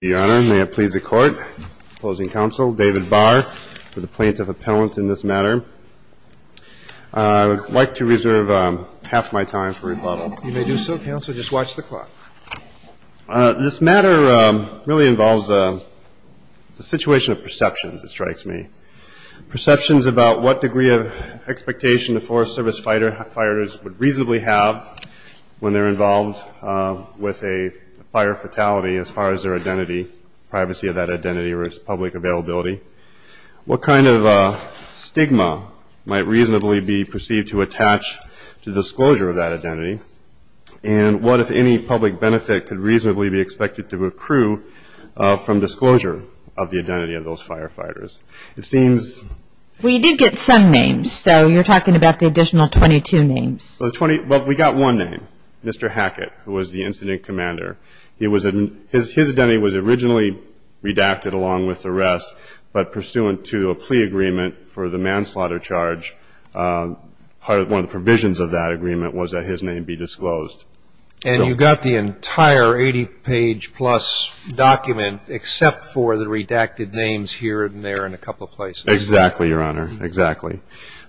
May it please the Court, opposing counsel, David Barr, for the plaintiff appellant in this matter. I would like to reserve half my time for rebuttal. You may do so, counsel. Just watch the clock. This matter really involves a situation of perceptions, it strikes me. Perceptions about what degree of expectation the Forest Service firefighters would reasonably have when they're involved with a fire fatality as far as their identity, privacy of that identity or its public availability. What kind of stigma might reasonably be perceived to attach to disclosure of that identity? And what, if any, public benefit could reasonably be expected to accrue from disclosure of the identity of those firefighters? It seems- We did get some names, so you're talking about the additional 22 names. Well, we got one name, Mr. Hackett, who was the incident commander. His identity was originally redacted along with the rest, but pursuant to a plea agreement for the manslaughter charge, one of the provisions of that agreement was that his name be disclosed. And you got the entire 80-page-plus document except for the redacted names here and there and a couple of places. Exactly, Your Honor, exactly.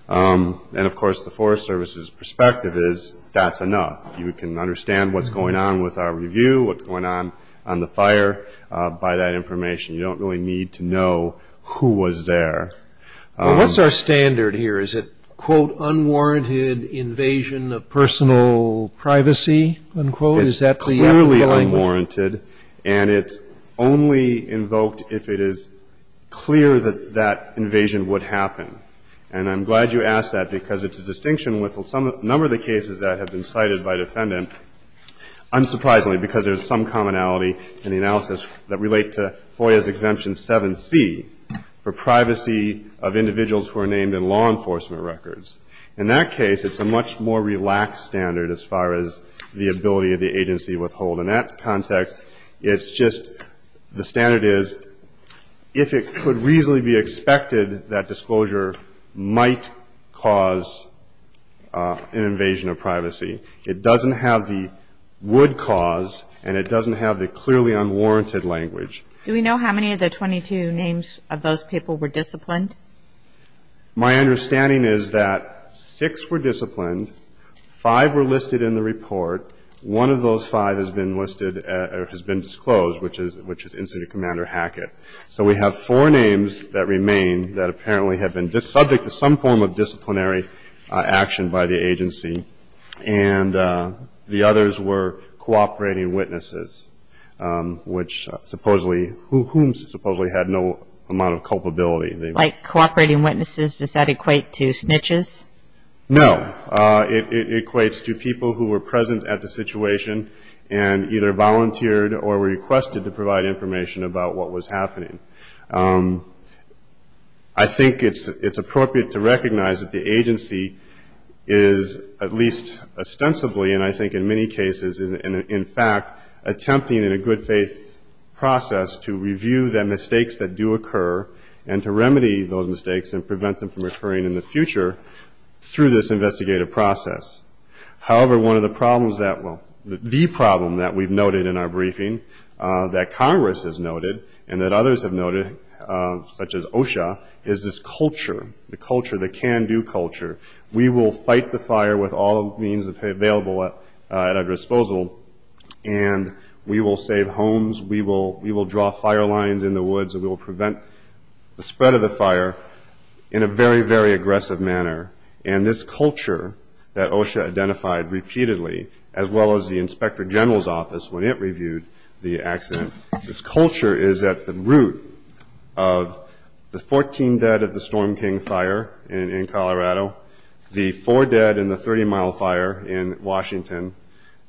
And of course, the Forest Service's perspective is that's enough. You can understand what's going on with our review, what's going on on the fire by that information. You don't really need to know who was there. What's our standard here? Is it, quote, unwarranted invasion of personal privacy, unquote? Is that the language? It's clearly unwarranted, and it's only invoked if it is clear that that invasion would happen. And I'm glad you asked that because it's a distinction with a number of the cases that have been cited by defendant, unsurprisingly, because there's some commonality in the analysis that relate to FOIA's exemption 7C for privacy of individuals who are named in law enforcement records. In that case, it's a much more relaxed standard as far as the ability of the agency to withhold. In that context, it's just the standard is if it could reasonably be expected, that disclosure might cause an invasion of privacy. It doesn't have the would cause, and it doesn't have the clearly unwarranted language. Do we know how many of the 22 names of those people were disciplined? My understanding is that six were disciplined, five were listed in the report, one of those five has been listed or has been disclosed, which is Incident Commander Hackett. So we have four names that remain that apparently have been subject to some form of disciplinary action by the agency. And the others were cooperating witnesses, which supposedly, whom supposedly had no amount of culpability. Like cooperating witnesses, does that equate to snitches? No. It equates to people who were present at the situation and either volunteered or requested to provide information about what was happening. I think it's appropriate to recognize that the agency is, at least ostensibly, and I think in many cases, in fact, attempting in a good faith process to review the mistakes that do occur and to remedy those mistakes and prevent them from occurring in the future through this investigative process. However, one of the problems that will, the problem that we've noted in our briefing that Congress has noted and that others have noted, such as OSHA, is this culture, the culture, the can-do culture. We will fight the fire with all means available at our disposal and we will save homes. We will draw fire lines in the woods and we will prevent the spread of the fire in a very, very aggressive manner. And this culture that OSHA identified repeatedly, as well as the Inspector General's office, when it reviewed the accident, this culture is at the root of the 14 dead at the Storm King fire in Colorado, the four dead in the 30-mile fire in Washington,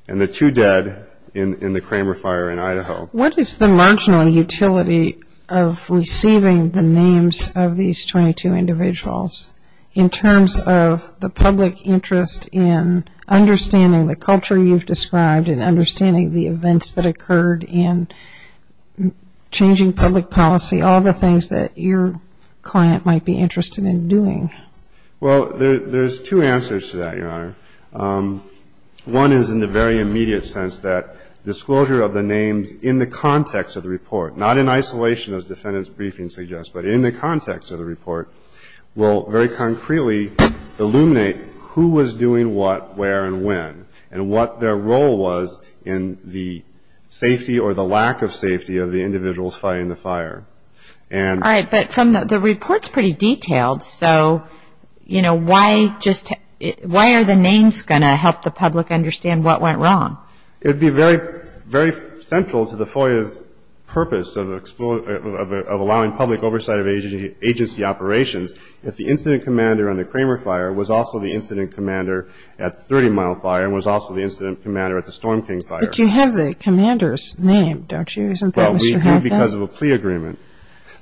and the two dead in the Cramer fire in Idaho. What is the marginal utility of receiving the names of these 22 individuals in terms of the public interest in understanding the culture you've described and understanding the events that occurred and changing public policy, all the things that your client might be interested in doing? Well, there's two answers to that, Your Honor. One is in the very immediate sense that disclosure of the names in the context of the report, not in isolation as defendant's briefing suggests, but in the context of the report, will very concretely illuminate who was doing what, where, and when, and what their role was in the safety or the lack of safety of the individuals fighting the fire. All right, but the report's pretty detailed, so why are the names going to help the public understand what went wrong? It would be very, very central to the FOIA's purpose of allowing public oversight of agency operations if the incident commander on the Cramer fire was also the incident commander at the 30-mile fire and was also the incident commander at the Storm King fire. But you have the commander's name, don't you? Isn't that Mr. Hadley? Well, we do because of a plea agreement.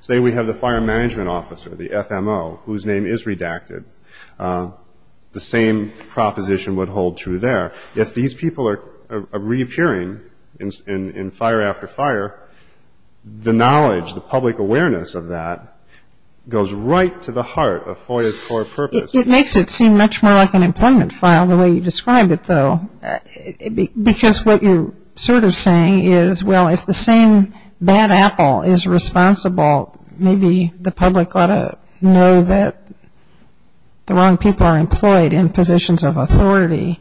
Say we have the fire management officer, the FMO, whose name is redacted. The same proposition would hold true there. If these people are reappearing in fire after fire, the knowledge, the public awareness of that goes right to the heart of FOIA's core purpose. It makes it seem much more like an employment file the way you describe it, though. Because what you're sort of saying is, well, if the same bad apple is responsible, maybe the public ought to know that the wrong people are employed in positions of authority.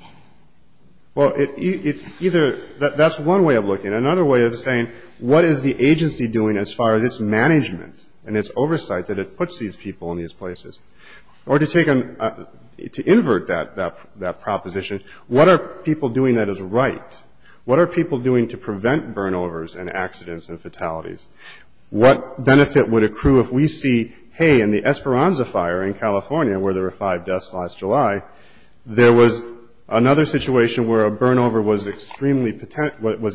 Well, it's either that's one way of looking at it. What is the agency doing as far as its management and its oversight that it puts these people in these places? Or to invert that proposition, what are people doing that is right? What are people doing to prevent burnovers and accidents and fatalities? What benefit would accrue if we see, hey, in the Esperanza fire in California, where there were five deaths last July, there was another situation where a burnover was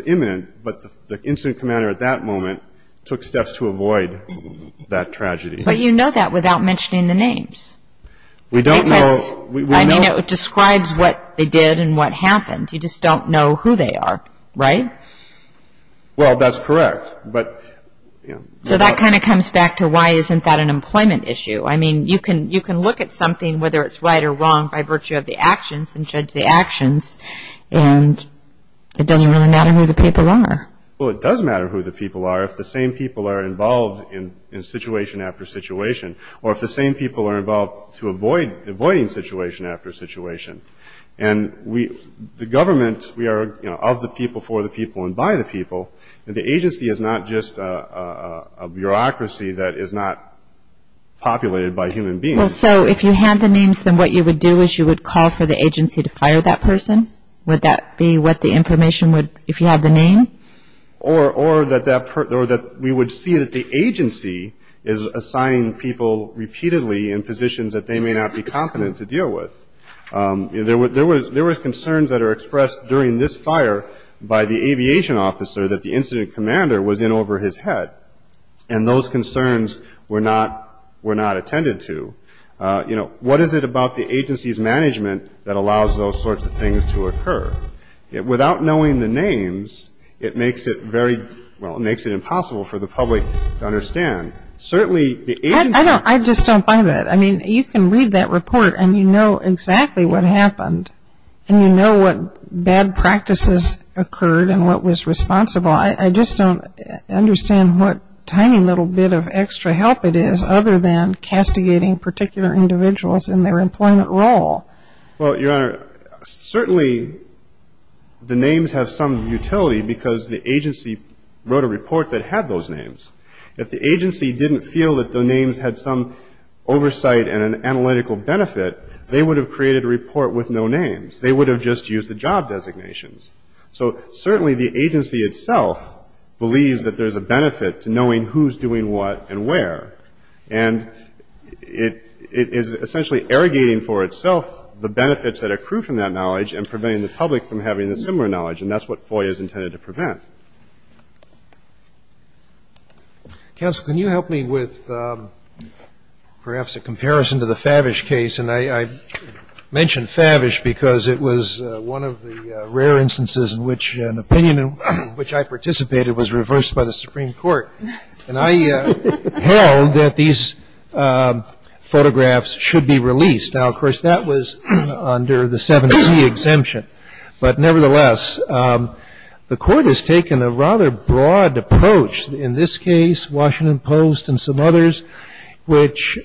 imminent, but the incident commander at that moment took steps to avoid that tragedy. But you know that without mentioning the names. We don't know. I mean, it describes what they did and what happened. You just don't know who they are, right? Well, that's correct, but, you know. So that kind of comes back to, why isn't that an employment issue? I mean, you can look at something, whether it's right or wrong, by virtue of the actions and judge the actions. And it doesn't really matter who the people are. Well, it does matter who the people are, if the same people are involved in situation after situation, or if the same people are involved to avoid avoiding situation after situation. And the government, we are of the people, for the people, and by the people. And the agency is not just a bureaucracy that is not populated by human beings. Well, so if you had the names, then what you would do for the agency to fire that person? Would that be what the information would, if you had the name? Or that we would see that the agency is assigning people repeatedly in positions that they may not be competent to deal with. There were concerns that are expressed during this fire by the aviation officer that the incident commander was in over his head. And those concerns were not attended to. You know, what is it about the agency's management that allows those sorts of things to occur? Without knowing the names, it makes it very, well, it makes it impossible for the public to understand. Certainly, the agency. I just don't buy that. I mean, you can read that report, and you know exactly what happened. And you know what bad practices occurred and what was responsible. I just don't understand what tiny little bit of extra help it is, other than castigating particular individuals in their employment role. Well, Your Honor, certainly the names have some utility, because the agency wrote a report that had those names. If the agency didn't feel that the names had some oversight and an analytical benefit, they would have created a report with no names. They would have just used the job designations. So certainly, the agency itself believes that there's a benefit to knowing who's doing what and where. And it is essentially irrigating for itself the benefits that accrue from that knowledge and preventing the public from having a similar knowledge. And that's what FOIA is intended to prevent. Counsel, can you help me with perhaps a comparison to the Favish case? And I mention Favish because it was one of the rare instances in which an opinion in which I was interviewed by the Supreme Court. And I held that these photographs should be released. Now, of course, that was under the 7C exemption. But nevertheless, the court has taken a rather broad approach, in this case, Washington Post and some others, which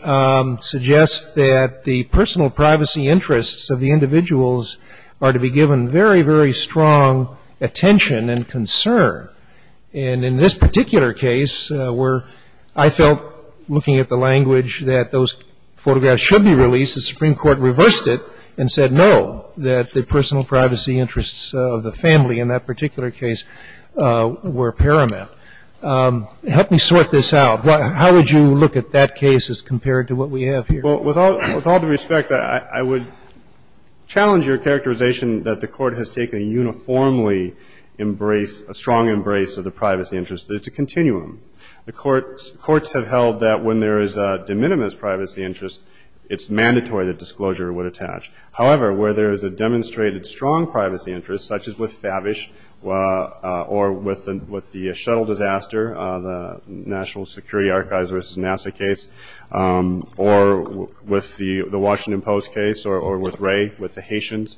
suggest that the personal privacy interests of the individuals are to be given very, very strong attention and concern. And in this particular case, where I felt, looking at the language, that those photographs should be released, the Supreme Court reversed it and said no, that the personal privacy interests of the family in that particular case were paramount. Help me sort this out. How would you look at that case as compared to what we have here? Well, with all due respect, I would challenge your characterization that the court has taken a uniformly embrace, a strong embrace of the privacy interests. It's a continuum. The courts have held that when there is a de minimis privacy interest, it's mandatory that disclosure would attach. However, where there is a demonstrated strong privacy interest, such as with Favish or with the shuttle disaster, the National Security Archives versus NASA case, or with the Washington Post case, or with Ray with the Haitians,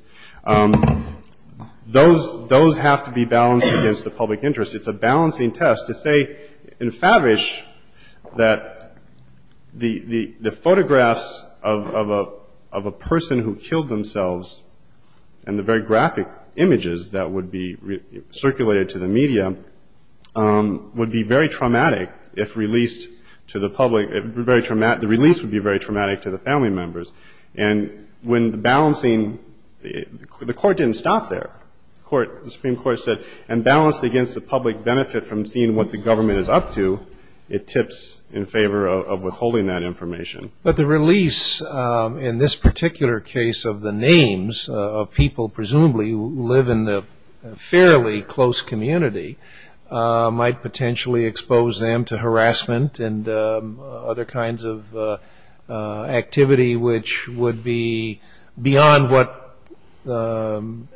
those have to be balanced against the public interest. It's a balancing test to say in Favish that the photographs of a person who killed themselves and the very graphic images that would be circulated to the media would be very traumatic if released to the public. The release would be very traumatic to the family members. And when the balancing, the court didn't stop there. The Supreme Court said, and balanced against the public benefit from seeing what the government is up to, it tips in favor of withholding that information. But the release in this particular case of the names of people presumably who live in the fairly close community might potentially expose them to harassment and other kinds of activity, which would be beyond what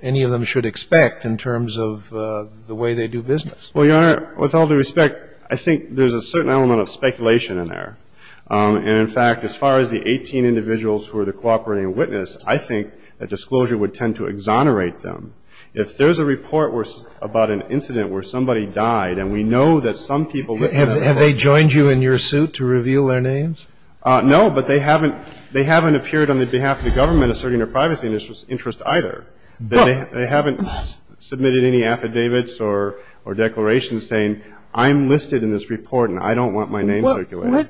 any of them should expect in terms of the way they do business. Well, Your Honor, with all due respect, I think there's a certain element of speculation in there. And in fact, as far as the 18 individuals who are the cooperating witness, I think that disclosure would tend to exonerate them. If there is a report about an incident where somebody died, and we know that some people witnessed it. Have they joined you in your suit to reveal their names? No, but they haven't appeared on the behalf of the government asserting their privacy in this interest either. They haven't submitted any affidavits or declarations saying, I'm listed in this report, and I don't want my name circulated.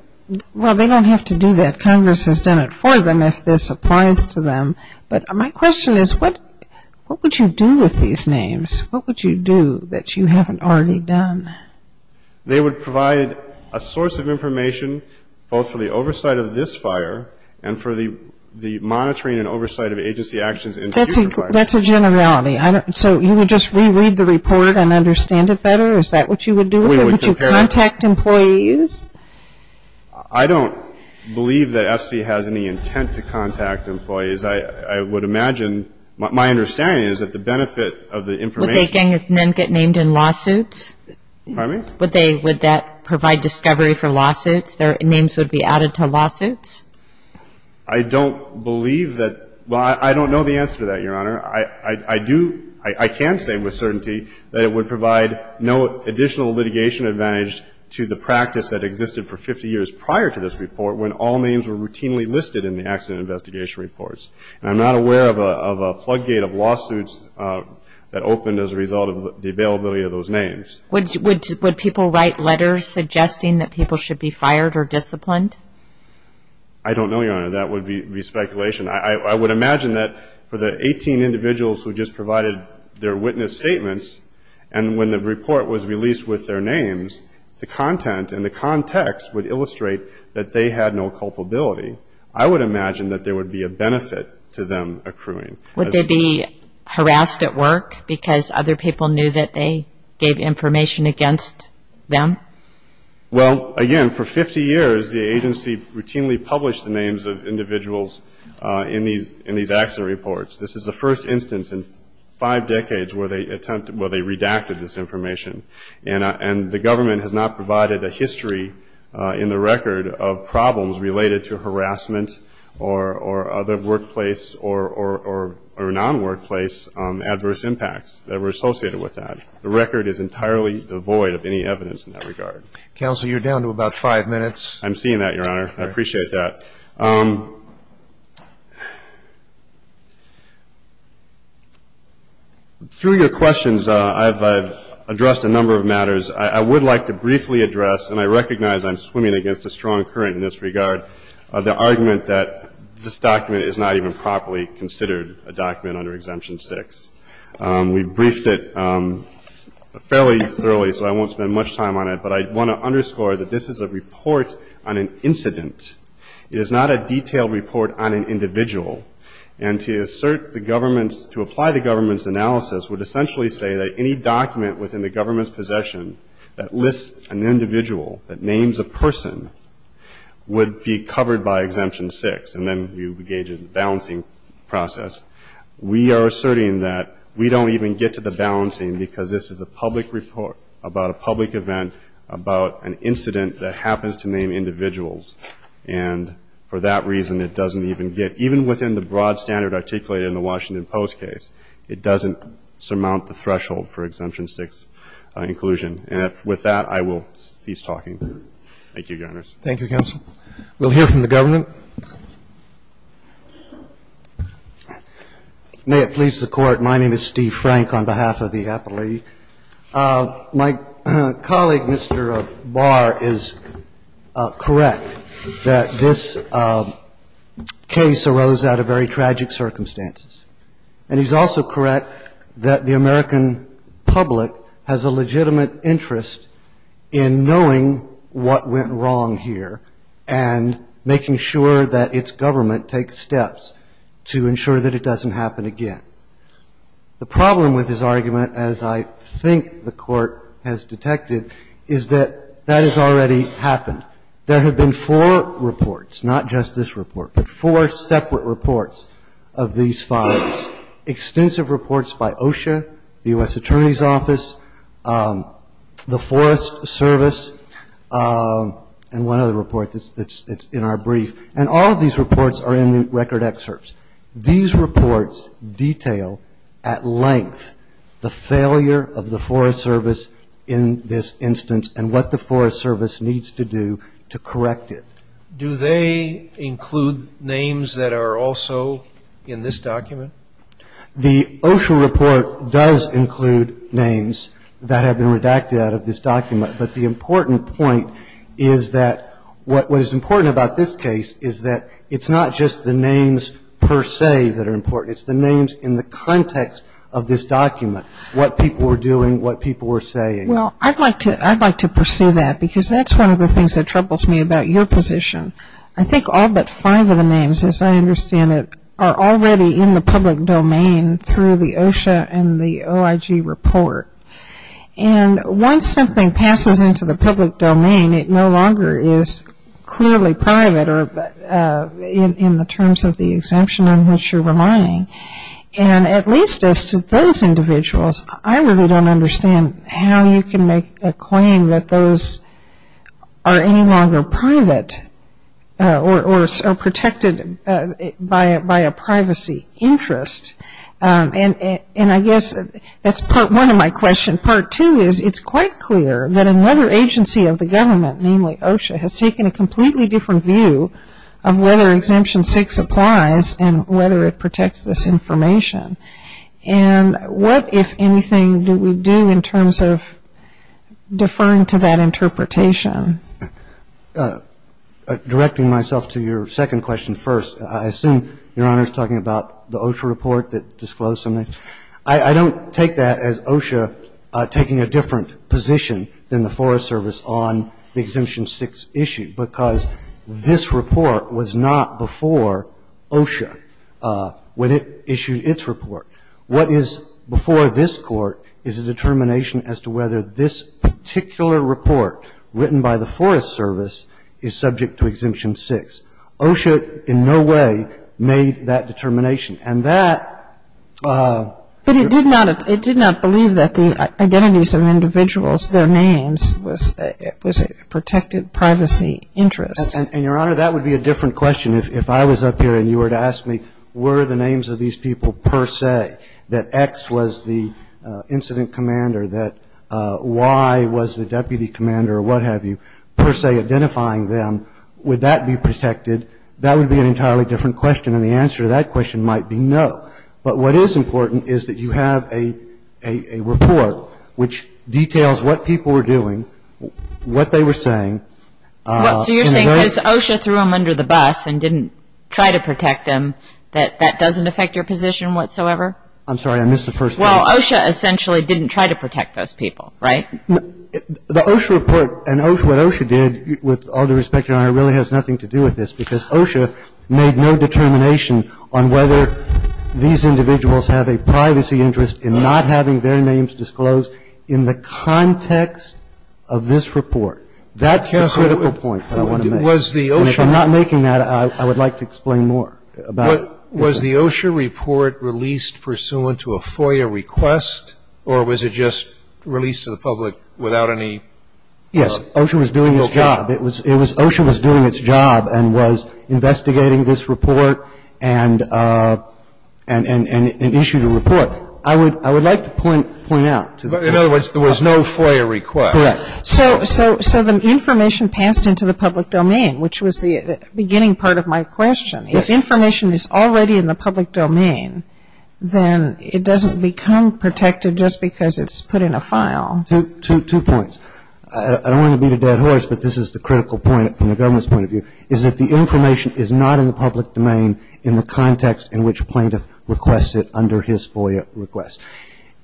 Well, they don't have to do that. Congress has done it for them if this applies to them. But my question is, what would you do with these names? What would you do that you haven't already done? They would provide a source of information both for the oversight of this fire and for the monitoring and oversight of agency actions in future fires. That's a generality. So you would just reread the report and understand it better? Is that what you would do? Or would you contact employees? I don't believe that FC has any intent to contact employees. I would imagine, my understanding is that the benefit of the information Would they then get named in lawsuits? Pardon me? Would that provide discovery for lawsuits? Their names would be added to lawsuits? I don't believe that. Well, I don't know the answer to that, Your Honor. I can say with certainty that it would provide no additional litigation advantage to the practice that existed for 50 years prior to this report when all names were routinely listed in the accident investigation reports. And I'm not aware of a floodgate of lawsuits that opened as a result of the availability of those names. Would people write letters suggesting that people should be fired or disciplined? I don't know, Your Honor. That would be speculation. I would imagine that for the 18 individuals who just provided their witness statements, and when the report was released with their names, the content and the context would illustrate that they had no culpability. I would imagine that there would be a benefit to them accruing. Would they be harassed at work because other people knew that they gave information against them? Well, again, for 50 years, the agency routinely published the names of individuals in these accident reports. This is the first instance in five decades where they redacted this information. And the government has not provided a history in the record of problems related to harassment or other workplace or non-workplace adverse impacts that were associated with that. The record is entirely devoid of any evidence in that regard. Counsel, you're down to about five minutes. I'm seeing that, Your Honor. I appreciate that. Through your questions, I've addressed a number of matters. I would like to briefly address, and I recognize I'm swimming against a strong current in this regard, the argument that this document is not even properly considered a document under Exemption 6. We've briefed it fairly thoroughly, so I won't spend much time on it. But I want to underscore that this is a report on an incident. It is not a detailed report on an individual. And to assert the government's, to apply the government's analysis, would essentially say that any document within the government's possession that lists an individual, that names a person, would be covered by Exemption 6. And then you engage in a balancing process. We are asserting that we don't even get to the balancing, because this is a public report about a public event, about an incident that happens to name individuals. And for that reason, it doesn't even get, even within the broad standard articulated in the Washington Post case, it doesn't surmount the threshold for Exemption 6 inclusion. And with that, I will cease talking. Thank you, Your Honors. Thank you, counsel. We'll hear from the government. May it please the Court, my name is Steve Frank on behalf of the Appellee. My colleague, Mr. Barr, is correct that this case arose out of very tragic circumstances. And he's also correct that the American public has a legitimate interest in knowing what went wrong here and making sure that its government takes steps to ensure that it doesn't happen again. The problem with his argument, as I think the Court has detected, is that that has already happened. There have been four reports, not just this report, but four separate reports of these fires. Extensive reports by OSHA, the US Attorney's Office, the Forest Service, and one other report that's in our brief. And all of these reports are in the record excerpts. These reports detail at length the failure of the Forest Service in this instance and what the Forest Service needs to do to correct it. Do they include names that are also in this document? The OSHA report does include names that have been redacted out of this document. But the important point is that what is important about this case is that it's not just the names per se that are important. It's the names in the context of this document. What people were doing, what people were saying. Well, I'd like to pursue that because that's one of the things that troubles me about your position. I think all but five of the names, as I understand it, are already in the public domain through the OSHA and the OIG report. And once something passes into the public domain, it no longer is clearly private or in the terms of the exemption on which you're relying. And at least as to those individuals, I really don't understand how you can make a claim that those are any longer private or are protected by a privacy interest. And I guess that's part one of my question. Part two is it's quite clear that another agency of the government, namely OSHA, has taken a completely different view of whether Exemption 6 applies and whether it protects this information. And what, if anything, do we do in terms of deferring to that interpretation? Directing myself to your second question first, I assume Your Honor is talking about the OSHA report that disclosed something. I don't take that as OSHA taking a different position than the Forest Service on the Exemption 6 issue because this report was not before OSHA. When it issued its report, what is before this Court is a determination as to whether this particular report written by the Forest Service is subject to Exemption 6. OSHA in no way made that determination. And that ---- But it did not believe that the identities of individuals, their names was a protected privacy interest. And, Your Honor, that would be a different question if I was up here and you were to ask me were the names of these people per se, that X was the incident commander, that Y was the deputy commander, or what have you, per se identifying them, would that be protected? That would be an entirely different question. And the answer to that question might be no. But what is important is that you have a report which details what people were doing, what they were saying. And that's why it's important that you have a report that tells you what people were doing and why they were doing it. And that's why it's important that you have a report that tells you what people were doing and why they were doing it. So you're saying because OSHA threw them under the bus and didn't try to protect them, that that doesn't affect your position whatsoever? I'm sorry. I missed the first part. Well, OSHA essentially didn't try to protect those people, right? The OSHA report and what OSHA did, with all due respect, Your Honor, really has nothing to do with this because OSHA made no determination on whether these individuals have a privacy interest in not having their names disclosed in the context of this report. That's the critical point that I want to make. And if I'm not making that, I would like to explain more about it. Was the OSHA report released pursuant to a FOIA request, or was it just released to the public without any? Yes. OSHA was doing its job. It was OSHA was doing its job and was investigating this report and issued a report. I would like to point out to the public. In other words, there was no FOIA request. Correct. So the information passed into the public domain, which was the beginning part of my question. If information is already in the public domain, then it doesn't become protected just because it's put in a file. Two points. I don't want to beat a dead horse, but this is the critical point from the government's point of view, is that the information is not in the public domain in the context in which plaintiff requests it under his FOIA request.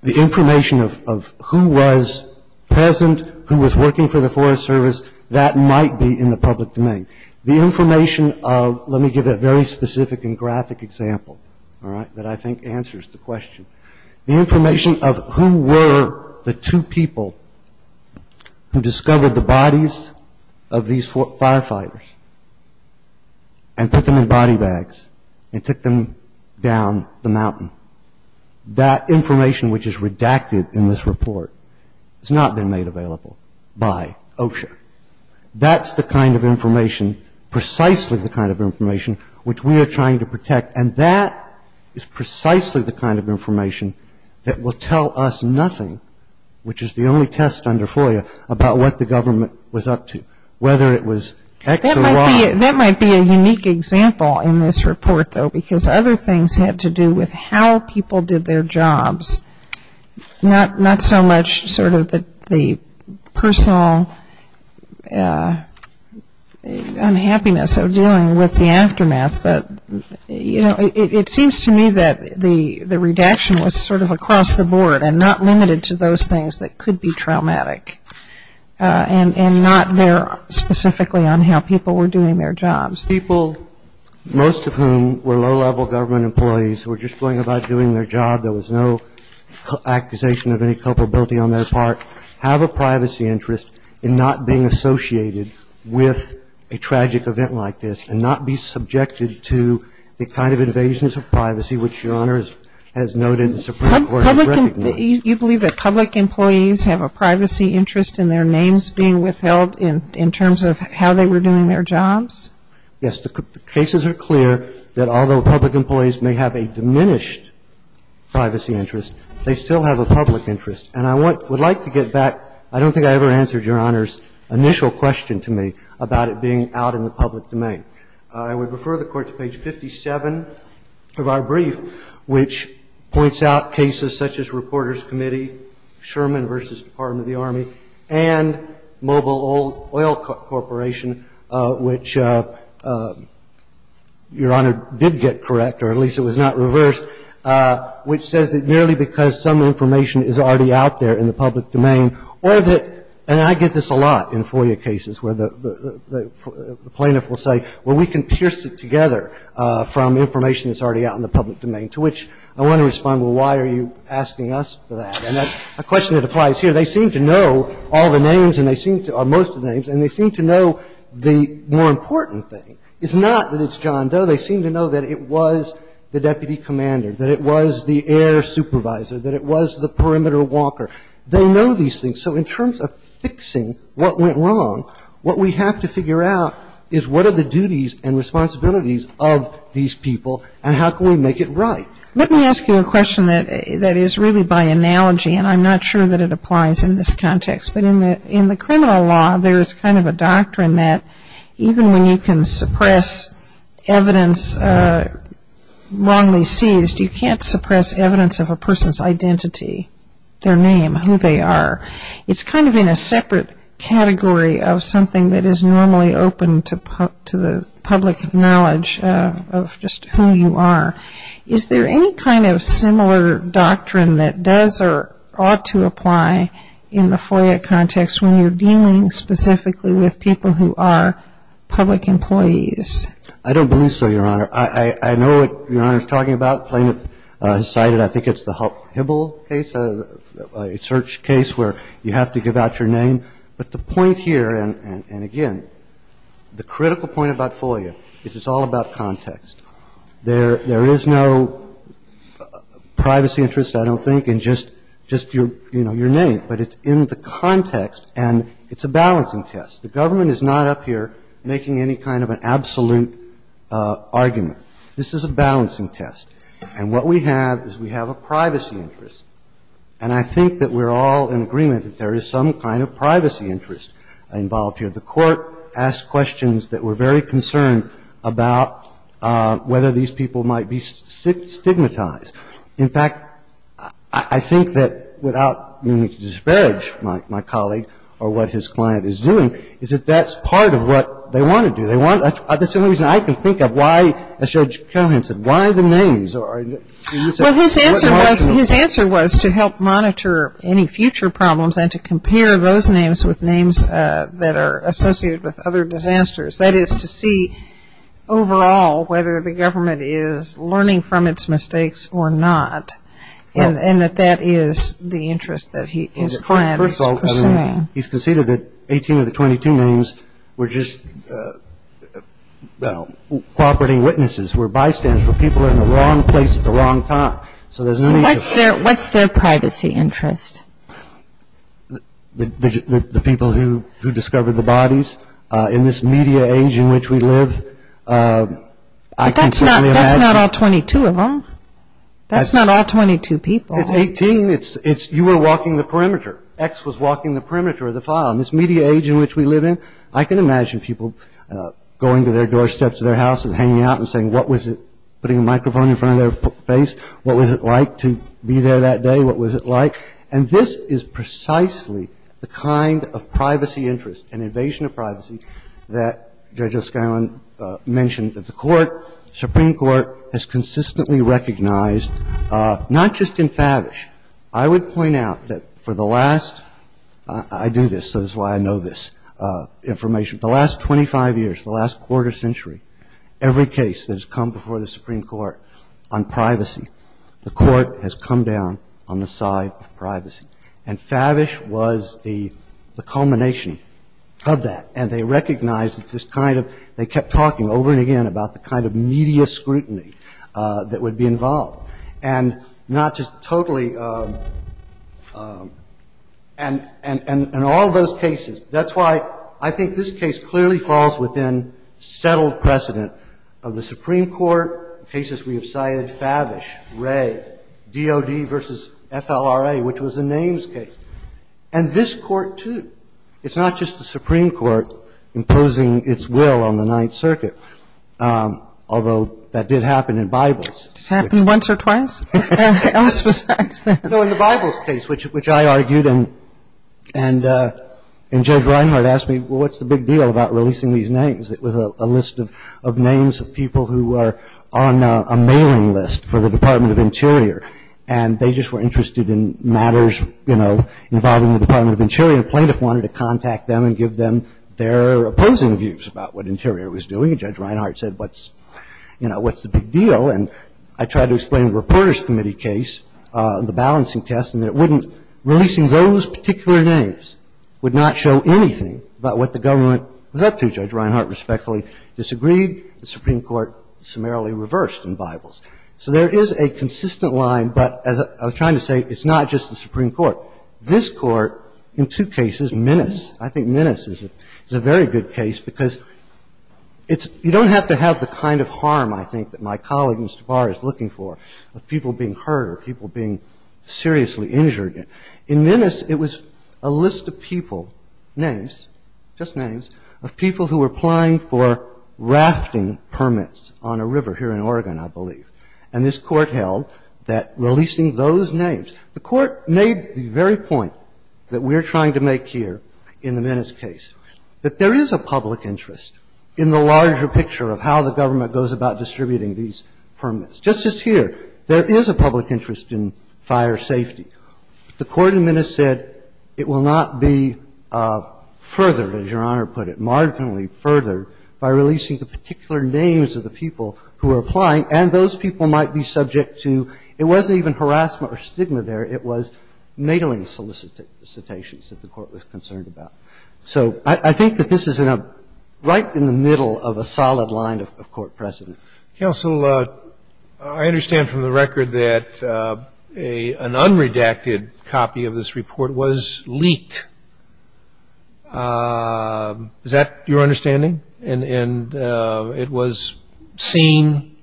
The information of who was present, who was working for the Forest Service, that might be in the public domain. The information of, let me give a very specific and graphic example, all right, that I think answers the question. The information of who were the two people who discovered the bodies of these firefighters and put them in body bags and took them down the mountain, that information, which is redacted in this report, has not been made available by OSHA. That's the kind of information, precisely the kind of information, which we are trying to protect, and that is precisely the kind of information that will tell us nothing, which is the only test under FOIA, about what the government was up to, whether it was act or not. That might be a unique example in this report, though, because other things have to do with how people did their jobs, not so much sort of the personal unhappiness of dealing with the aftermath, but, you know, it seems to me that the redaction was sort of across the board and not limited to those things that could be traumatic and not there specifically on how people were doing their jobs. People, most of whom were low-level government employees who were just going about doing their job, there was no accusation of any culpability on their part, have a privacy interest in not being associated with a tragic event like this and not be subjected to the kind of invasions of privacy, which Your Honor has noted and the Supreme Court has recognized. You believe that public employees have a privacy interest in their names being withheld in terms of how they were doing their jobs? Yes. The cases are clear that although public employees may have a diminished privacy interest, they still have a public interest. And I would like to get back, I don't think I ever answered Your Honor's initial question to me about it being out in the public domain. I would refer the Court to page 57 of our brief, which points out cases such as Reporters Committee, Sherman v. Department of the Army, and Mobile Oil Corporation, which Your Honor did get correct, or at least it was not reversed, which says that merely because some information is already out there in the public domain or that, and I get this a lot in FOIA cases where the plaintiff will say, well, we can pierce it together from information that's already out in the public domain, to which I want to respond, well, why are you asking us for that? And that's a question that applies here. They seem to know all the names and they seem to or most of the names and they seem to know the more important thing. It's not that it's John Doe. They seem to know that it was the deputy commander, that it was the air supervisor, that it was the perimeter walker. They know these things. So in terms of fixing what went wrong, what we have to figure out is what are the duties and responsibilities of these people and how can we make it right? Let me ask you a question that is really by analogy, and I'm not sure that it applies in this context, but in the criminal law there is kind of a doctrine that even when you can suppress evidence wrongly seized, you can't suppress evidence of a person's identity, their name, who they are. It's kind of in a separate category of something that is normally open to the public knowledge of just who you are. Is there any kind of similar doctrine that does or ought to apply in the FOIA context when you're dealing specifically with people who are public employees? I don't believe so, Your Honor. I know what Your Honor is talking about. Plaintiff has cited, I think it's the Hibble case, a search case where you have to give out your name. But the point here, and again, the critical point about FOIA is it's all about context. There is no privacy interest, I don't think, in just your name. But it's in the context and it's a balancing test. The government is not up here making any kind of an absolute argument. This is a balancing test. And what we have is we have a privacy interest. And I think that we're all in agreement that there is some kind of privacy interest involved here. The Court asked questions that were very concerned about whether these people might be stigmatized. In fact, I think that without meaning to disparage my colleague or what his client is doing, is that that's part of what they want to do. That's the only reason I can think of why, as Judge Callahan said, why the names. Well, his answer was to help monitor any future problems and to compare those names with names that are associated with other disasters. That is, to see overall whether the government is learning from its mistakes or not. And that that is the interest that his client is pursuing. He's conceded that 18 of the 22 names were just, well, cooperating witnesses, were bystanders, were people in the wrong place at the wrong time. So there's no need to- What's their privacy interest? The people who discovered the bodies. In this media age in which we live, I can certainly imagine- That's not all 22 of them. That's not all 22 people. It's 18. It's you were walking the perimeter. X was walking the perimeter of the file. In this media age in which we live in, I can imagine people going to their doorsteps of their house and hanging out and saying, what was it- Putting a microphone in front of their face. What was it like to be there that day? What was it like? And this is precisely the kind of privacy interest and invasion of privacy that Judge O'Scillon mentioned that the court, Supreme Court, has consistently recognized, not just in Favish. I would point out that for the last- I do this, so this is why I know this information. For the last 25 years, the last quarter century, every case that has come before the Supreme Court on privacy, the court has come down on the side of privacy. And Favish was the culmination of that. And they recognized that this kind of- They kept talking over and again about the kind of media scrutiny that would be involved. And not just totally- And in all those cases, that's why I think this case clearly falls within settled precedent of the Supreme Court, cases we have cited, Favish, Wray, DOD v. FLRA, which was a names case. And this Court, too. It's not just the Supreme Court imposing its will on the Ninth Circuit, although that did happen in Bibles. It's happened once or twice. And what else besides that? No, in the Bibles case, which I argued, and Judge Reinhart asked me, well, what's the big deal about releasing these names? It was a list of names of people who were on a mailing list for the Department of Interior. And they just were interested in matters, you know, involving the Department of Interior. A plaintiff wanted to contact them and give them their opposing views about what Interior was doing. And Judge Reinhart said, what's, you know, what's the big deal? And I tried to explain the Reporters Committee case, the balancing test, and it wouldn't releasing those particular names would not show anything about what the government was up to. Judge Reinhart respectfully disagreed. The Supreme Court summarily reversed in Bibles. So there is a consistent line. But as I was trying to say, it's not just the Supreme Court. This Court, in two cases, menace. I think menace is a very good case because it's you don't have to have the kind of harm, I think, that my colleague, Mr. Barr, is looking for, of people being hurt or people being seriously injured. In menace, it was a list of people, names, just names, of people who were applying for rafting permits on a river here in Oregon, I believe. And this Court held that releasing those names. The Court made the very point that we're trying to make here in the menace case, that there is a public interest in the larger picture of how the government goes about distributing these permits. Just as here, there is a public interest in fire safety. The Court in menace said it will not be furthered, as Your Honor put it, marginally furthered, by releasing the particular names of the people who are applying. And those people might be subject to, it wasn't even harassment or stigma there. It was mailing solicitations that the Court was concerned about. So I think that this is right in the middle of a solid line of Court precedent. Counsel, I understand from the record that an unredacted copy of this report was leaked. Is that your understanding? And it was seen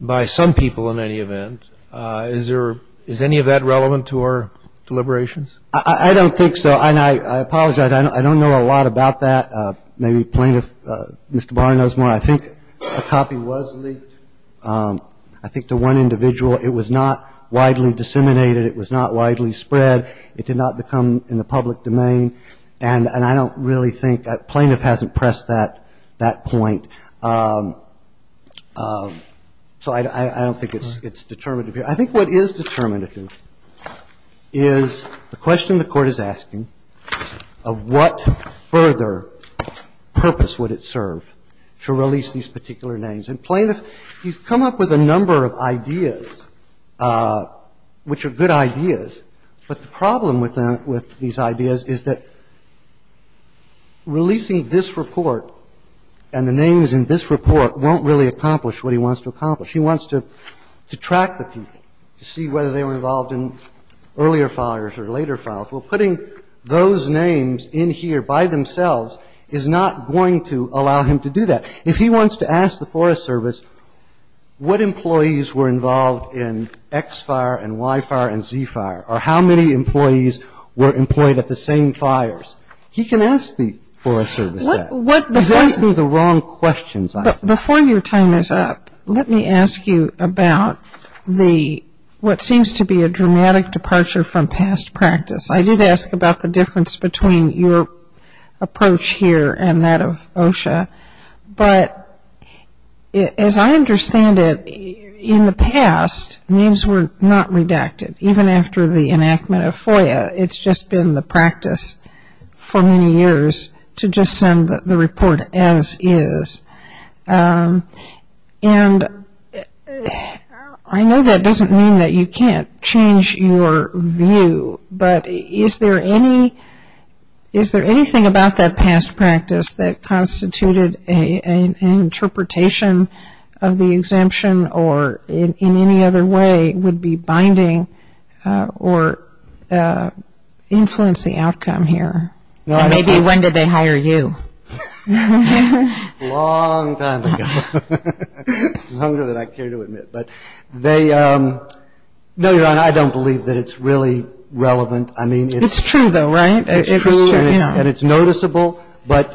by some people, in any event. Is any of that relevant to our deliberations? I don't think so. And I apologize. I don't know a lot about that. Maybe Plaintiff, Mr. Barr, knows more. I think a copy was leaked. I think to one individual. It was not widely disseminated. It was not widely spread. It did not become in the public domain. And I don't really think that plaintiff hasn't pressed that point. So I don't think it's determinative here. I think what is determinative is the question the Court is asking of what further purpose would it serve to release these particular names. And Plaintiff, he's come up with a number of ideas, which are good ideas. But the problem with them, with these ideas, is that releasing this report and the names in this report won't really accomplish what he wants to accomplish. If he wants to track the people, to see whether they were involved in earlier fires or later fires, well, putting those names in here by themselves is not going to allow him to do that. If he wants to ask the Forest Service what employees were involved in X fire and Y fire and Z fire, or how many employees were employed at the same fires, he can ask the Forest Service that. He's asking the wrong questions, I think. Before your time is up, let me ask you about what seems to be a dramatic departure from past practice. I did ask about the difference between your approach here and that of OSHA. But as I understand it, in the past, names were not redacted. Even after the enactment of FOIA, it's just been the practice for many years to send the report as is. And I know that doesn't mean that you can't change your view, but is there anything about that past practice that constituted an interpretation of the exemption or, in any other way, would be binding or influence the outcome here? And maybe when did they hire you? Long time ago. Longer than I care to admit. But they – no, Your Honor, I don't believe that it's really relevant. I mean, it's – It's true, though, right? It's true, and it's noticeable. But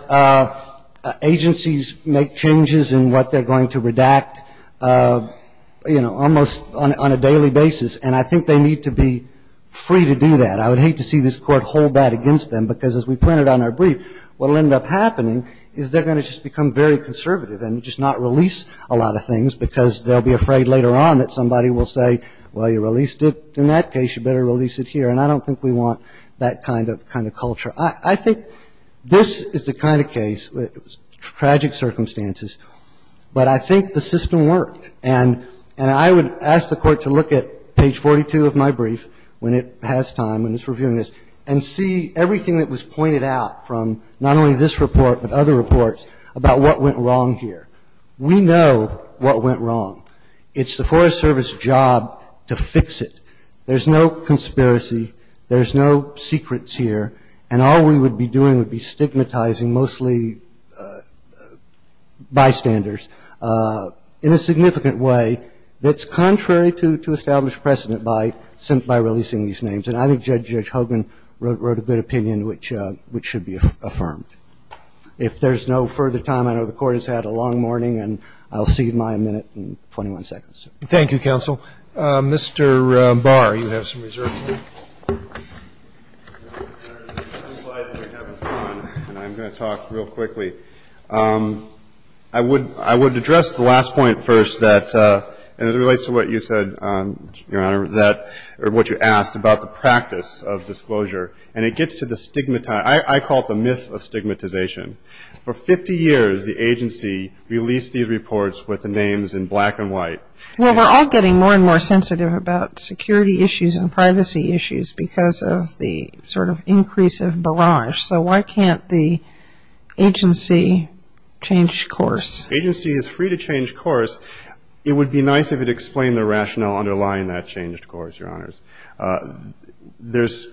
agencies make changes in what they're going to redact, you know, almost on a daily basis. And I think they need to be free to do that. I would hate to see this Court hold that against them, because as we pointed out in our brief, what will end up happening is they're going to just become very conservative and just not release a lot of things because they'll be afraid later on that somebody will say, well, you released it in that case. You better release it here. And I don't think we want that kind of culture. I think this is the kind of case, tragic circumstances, but I think the system worked. And I would ask the Court to look at page 42 of my brief when it has time, when it's reviewing this, and see everything that was pointed out from not only this report but other reports about what went wrong here. We know what went wrong. It's the Forest Service's job to fix it. There's no conspiracy. There's no secrets here. And all we would be doing would be stigmatizing mostly bystanders in a significant way that's contrary to established precedent by releasing these names. And I think Judge Hogan wrote a good opinion which should be affirmed. If there's no further time, I know the Court has had a long morning, and I'll see you, Maya, in a minute and 21 seconds. Thank you, Counsel. Mr. Barr, you have some reserve time. I have a slide that I have on, and I'm going to talk real quickly. I would address the last point first that, and it relates to what you said, Your Honor, or what you asked about the practice of disclosure. And it gets to the stigmatization. I call it the myth of stigmatization. For 50 years, the agency released these reports with the names in black and white. Well, we're all getting more and more sensitive about security issues and privacy issues because of the sort of increase of barrage. So why can't the agency change course? Agency is free to change course. It would be nice if it explained the rationale underlying that changed course, Your Honors. There's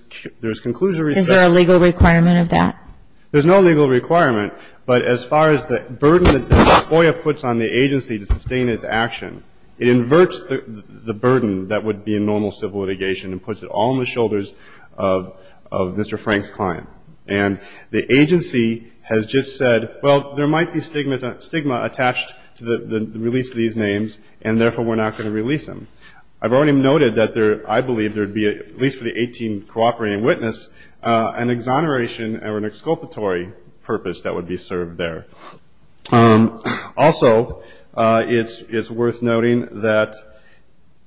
conclusive research. Is there a legal requirement of that? There's no legal requirement. But as far as the burden that FOIA puts on the agency to sustain its action, it inverts the burden that would be in normal civil litigation and puts it all on the shoulders of Mr. Frank's client. And the agency has just said, well, there might be stigma attached to the release of these names, and therefore we're not going to release them. I've already noted that there, I believe, there would be, at least for the 18 cooperating witness, an exoneration or an exculpatory purpose that would be served there. Also, it's worth noting that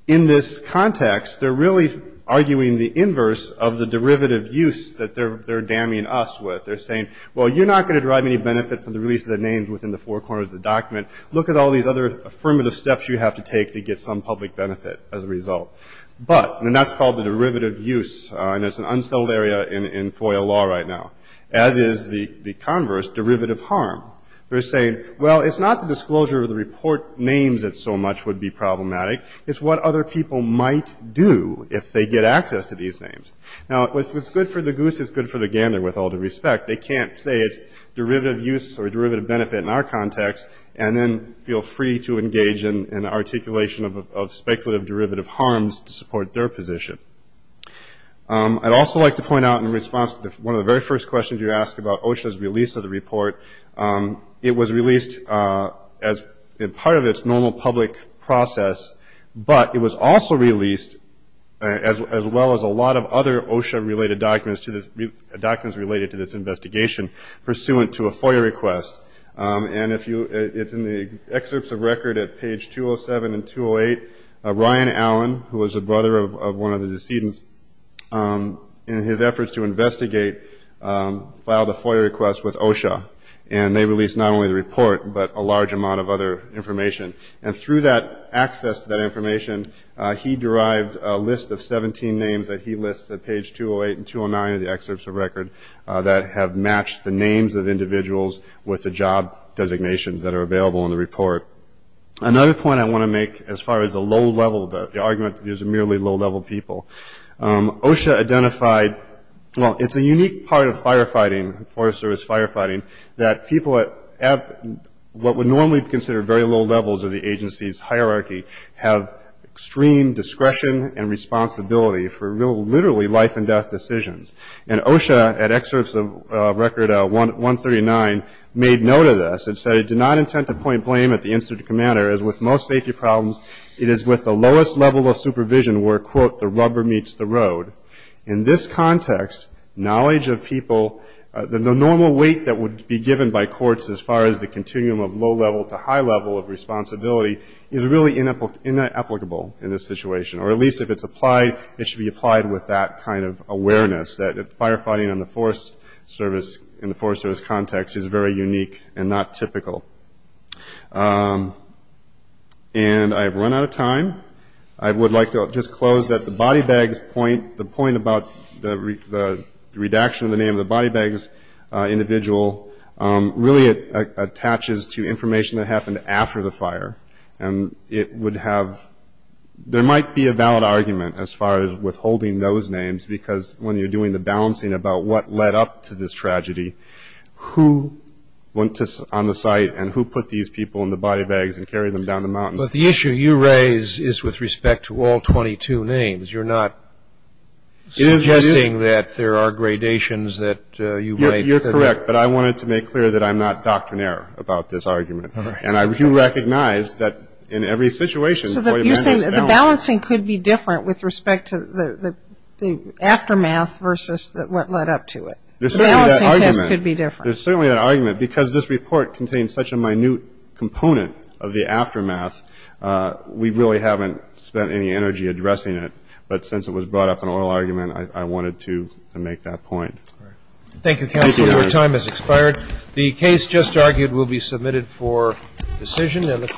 in this context, they're really arguing the inverse of the derivative use that they're damning us with. They're saying, well, you're not going to derive any benefit from the release of the names within the four corners of the document. Look at all these other affirmative steps you have to take to get some public benefit as a result. But, and that's called the derivative use. And it's an unsettled area in FOIA law right now, as is the converse, derivative harm. They're saying, well, it's not the disclosure of the report names that so much would be problematic. It's what other people might do if they get access to these names. Now, if it's good for the goose, it's good for the gander with all due respect. They can't say it's derivative use or derivative benefit in our context and then feel free to engage in articulation of speculative derivative harms to support their position. I'd also like to point out in response to one of the very first questions you asked about OSHA's release of the report, it was released as part of its normal public process, but it was also released as well as a lot of other OSHA-related documents related to this investigation pursuant to a FOIA request. And if you, it's in the excerpts of record at page 207 and 208. Ryan Allen, who was the brother of one of the decedents, in his efforts to investigate, filed a FOIA request with OSHA. And they released not only the report, but a large amount of other information. And through that access to that information, he derived a list of 17 names that he lists at page 208 and 209 of the excerpts of record that have matched the names of individuals with the job designations that are available in the report. Another point I want to make as far as the low-level, the argument that these are merely low-level people, OSHA identified, well, it's a unique part of firefighting, Forest Service firefighting, that people at what would normally be considered very low levels of the agency's hierarchy have extreme discretion and responsibility for literally life-and-death decisions. And OSHA, at excerpts of record 139, made note of this and said, I do not intend to point blame at the incident commander, as with most safety problems, it is with the lowest level of supervision where, quote, the rubber meets the road. In this context, knowledge of people, the normal weight that would be given by courts as far as the continuum of low-level to high-level of responsibility is really inapplicable in this situation, or at least if it's applied, it should be applied with that kind of awareness, that firefighting in the Forest Service context is very unique and not typical. And I have run out of time. I would like to just close that the body bags point, the point about the redaction of the name of the body bags individual, really it attaches to information that happened after the fire. And it would have ‑‑ there might be a valid argument as far as withholding those names, because when you're doing the balancing about what led up to this tragedy, who went on the site and who put these people in the body bags and carried them down the mountain? But the issue you raise is with respect to all 22 names. You're not suggesting that there are gradations that you made. You're correct. But I wanted to make clear that I'm not doctrinaire about this argument. And I do recognize that in every situation ‑‑ So you're saying the balancing could be different with respect to the aftermath versus what led up to it. The balancing test could be different. There's certainly an argument. Because this report contains such a minute component of the aftermath, we really haven't spent any energy addressing it. But since it was brought up in oral argument, I wanted to make that point. All right. Thank you, counsel. Your time has expired. The case just argued will be submitted for decision. And the court ‑‑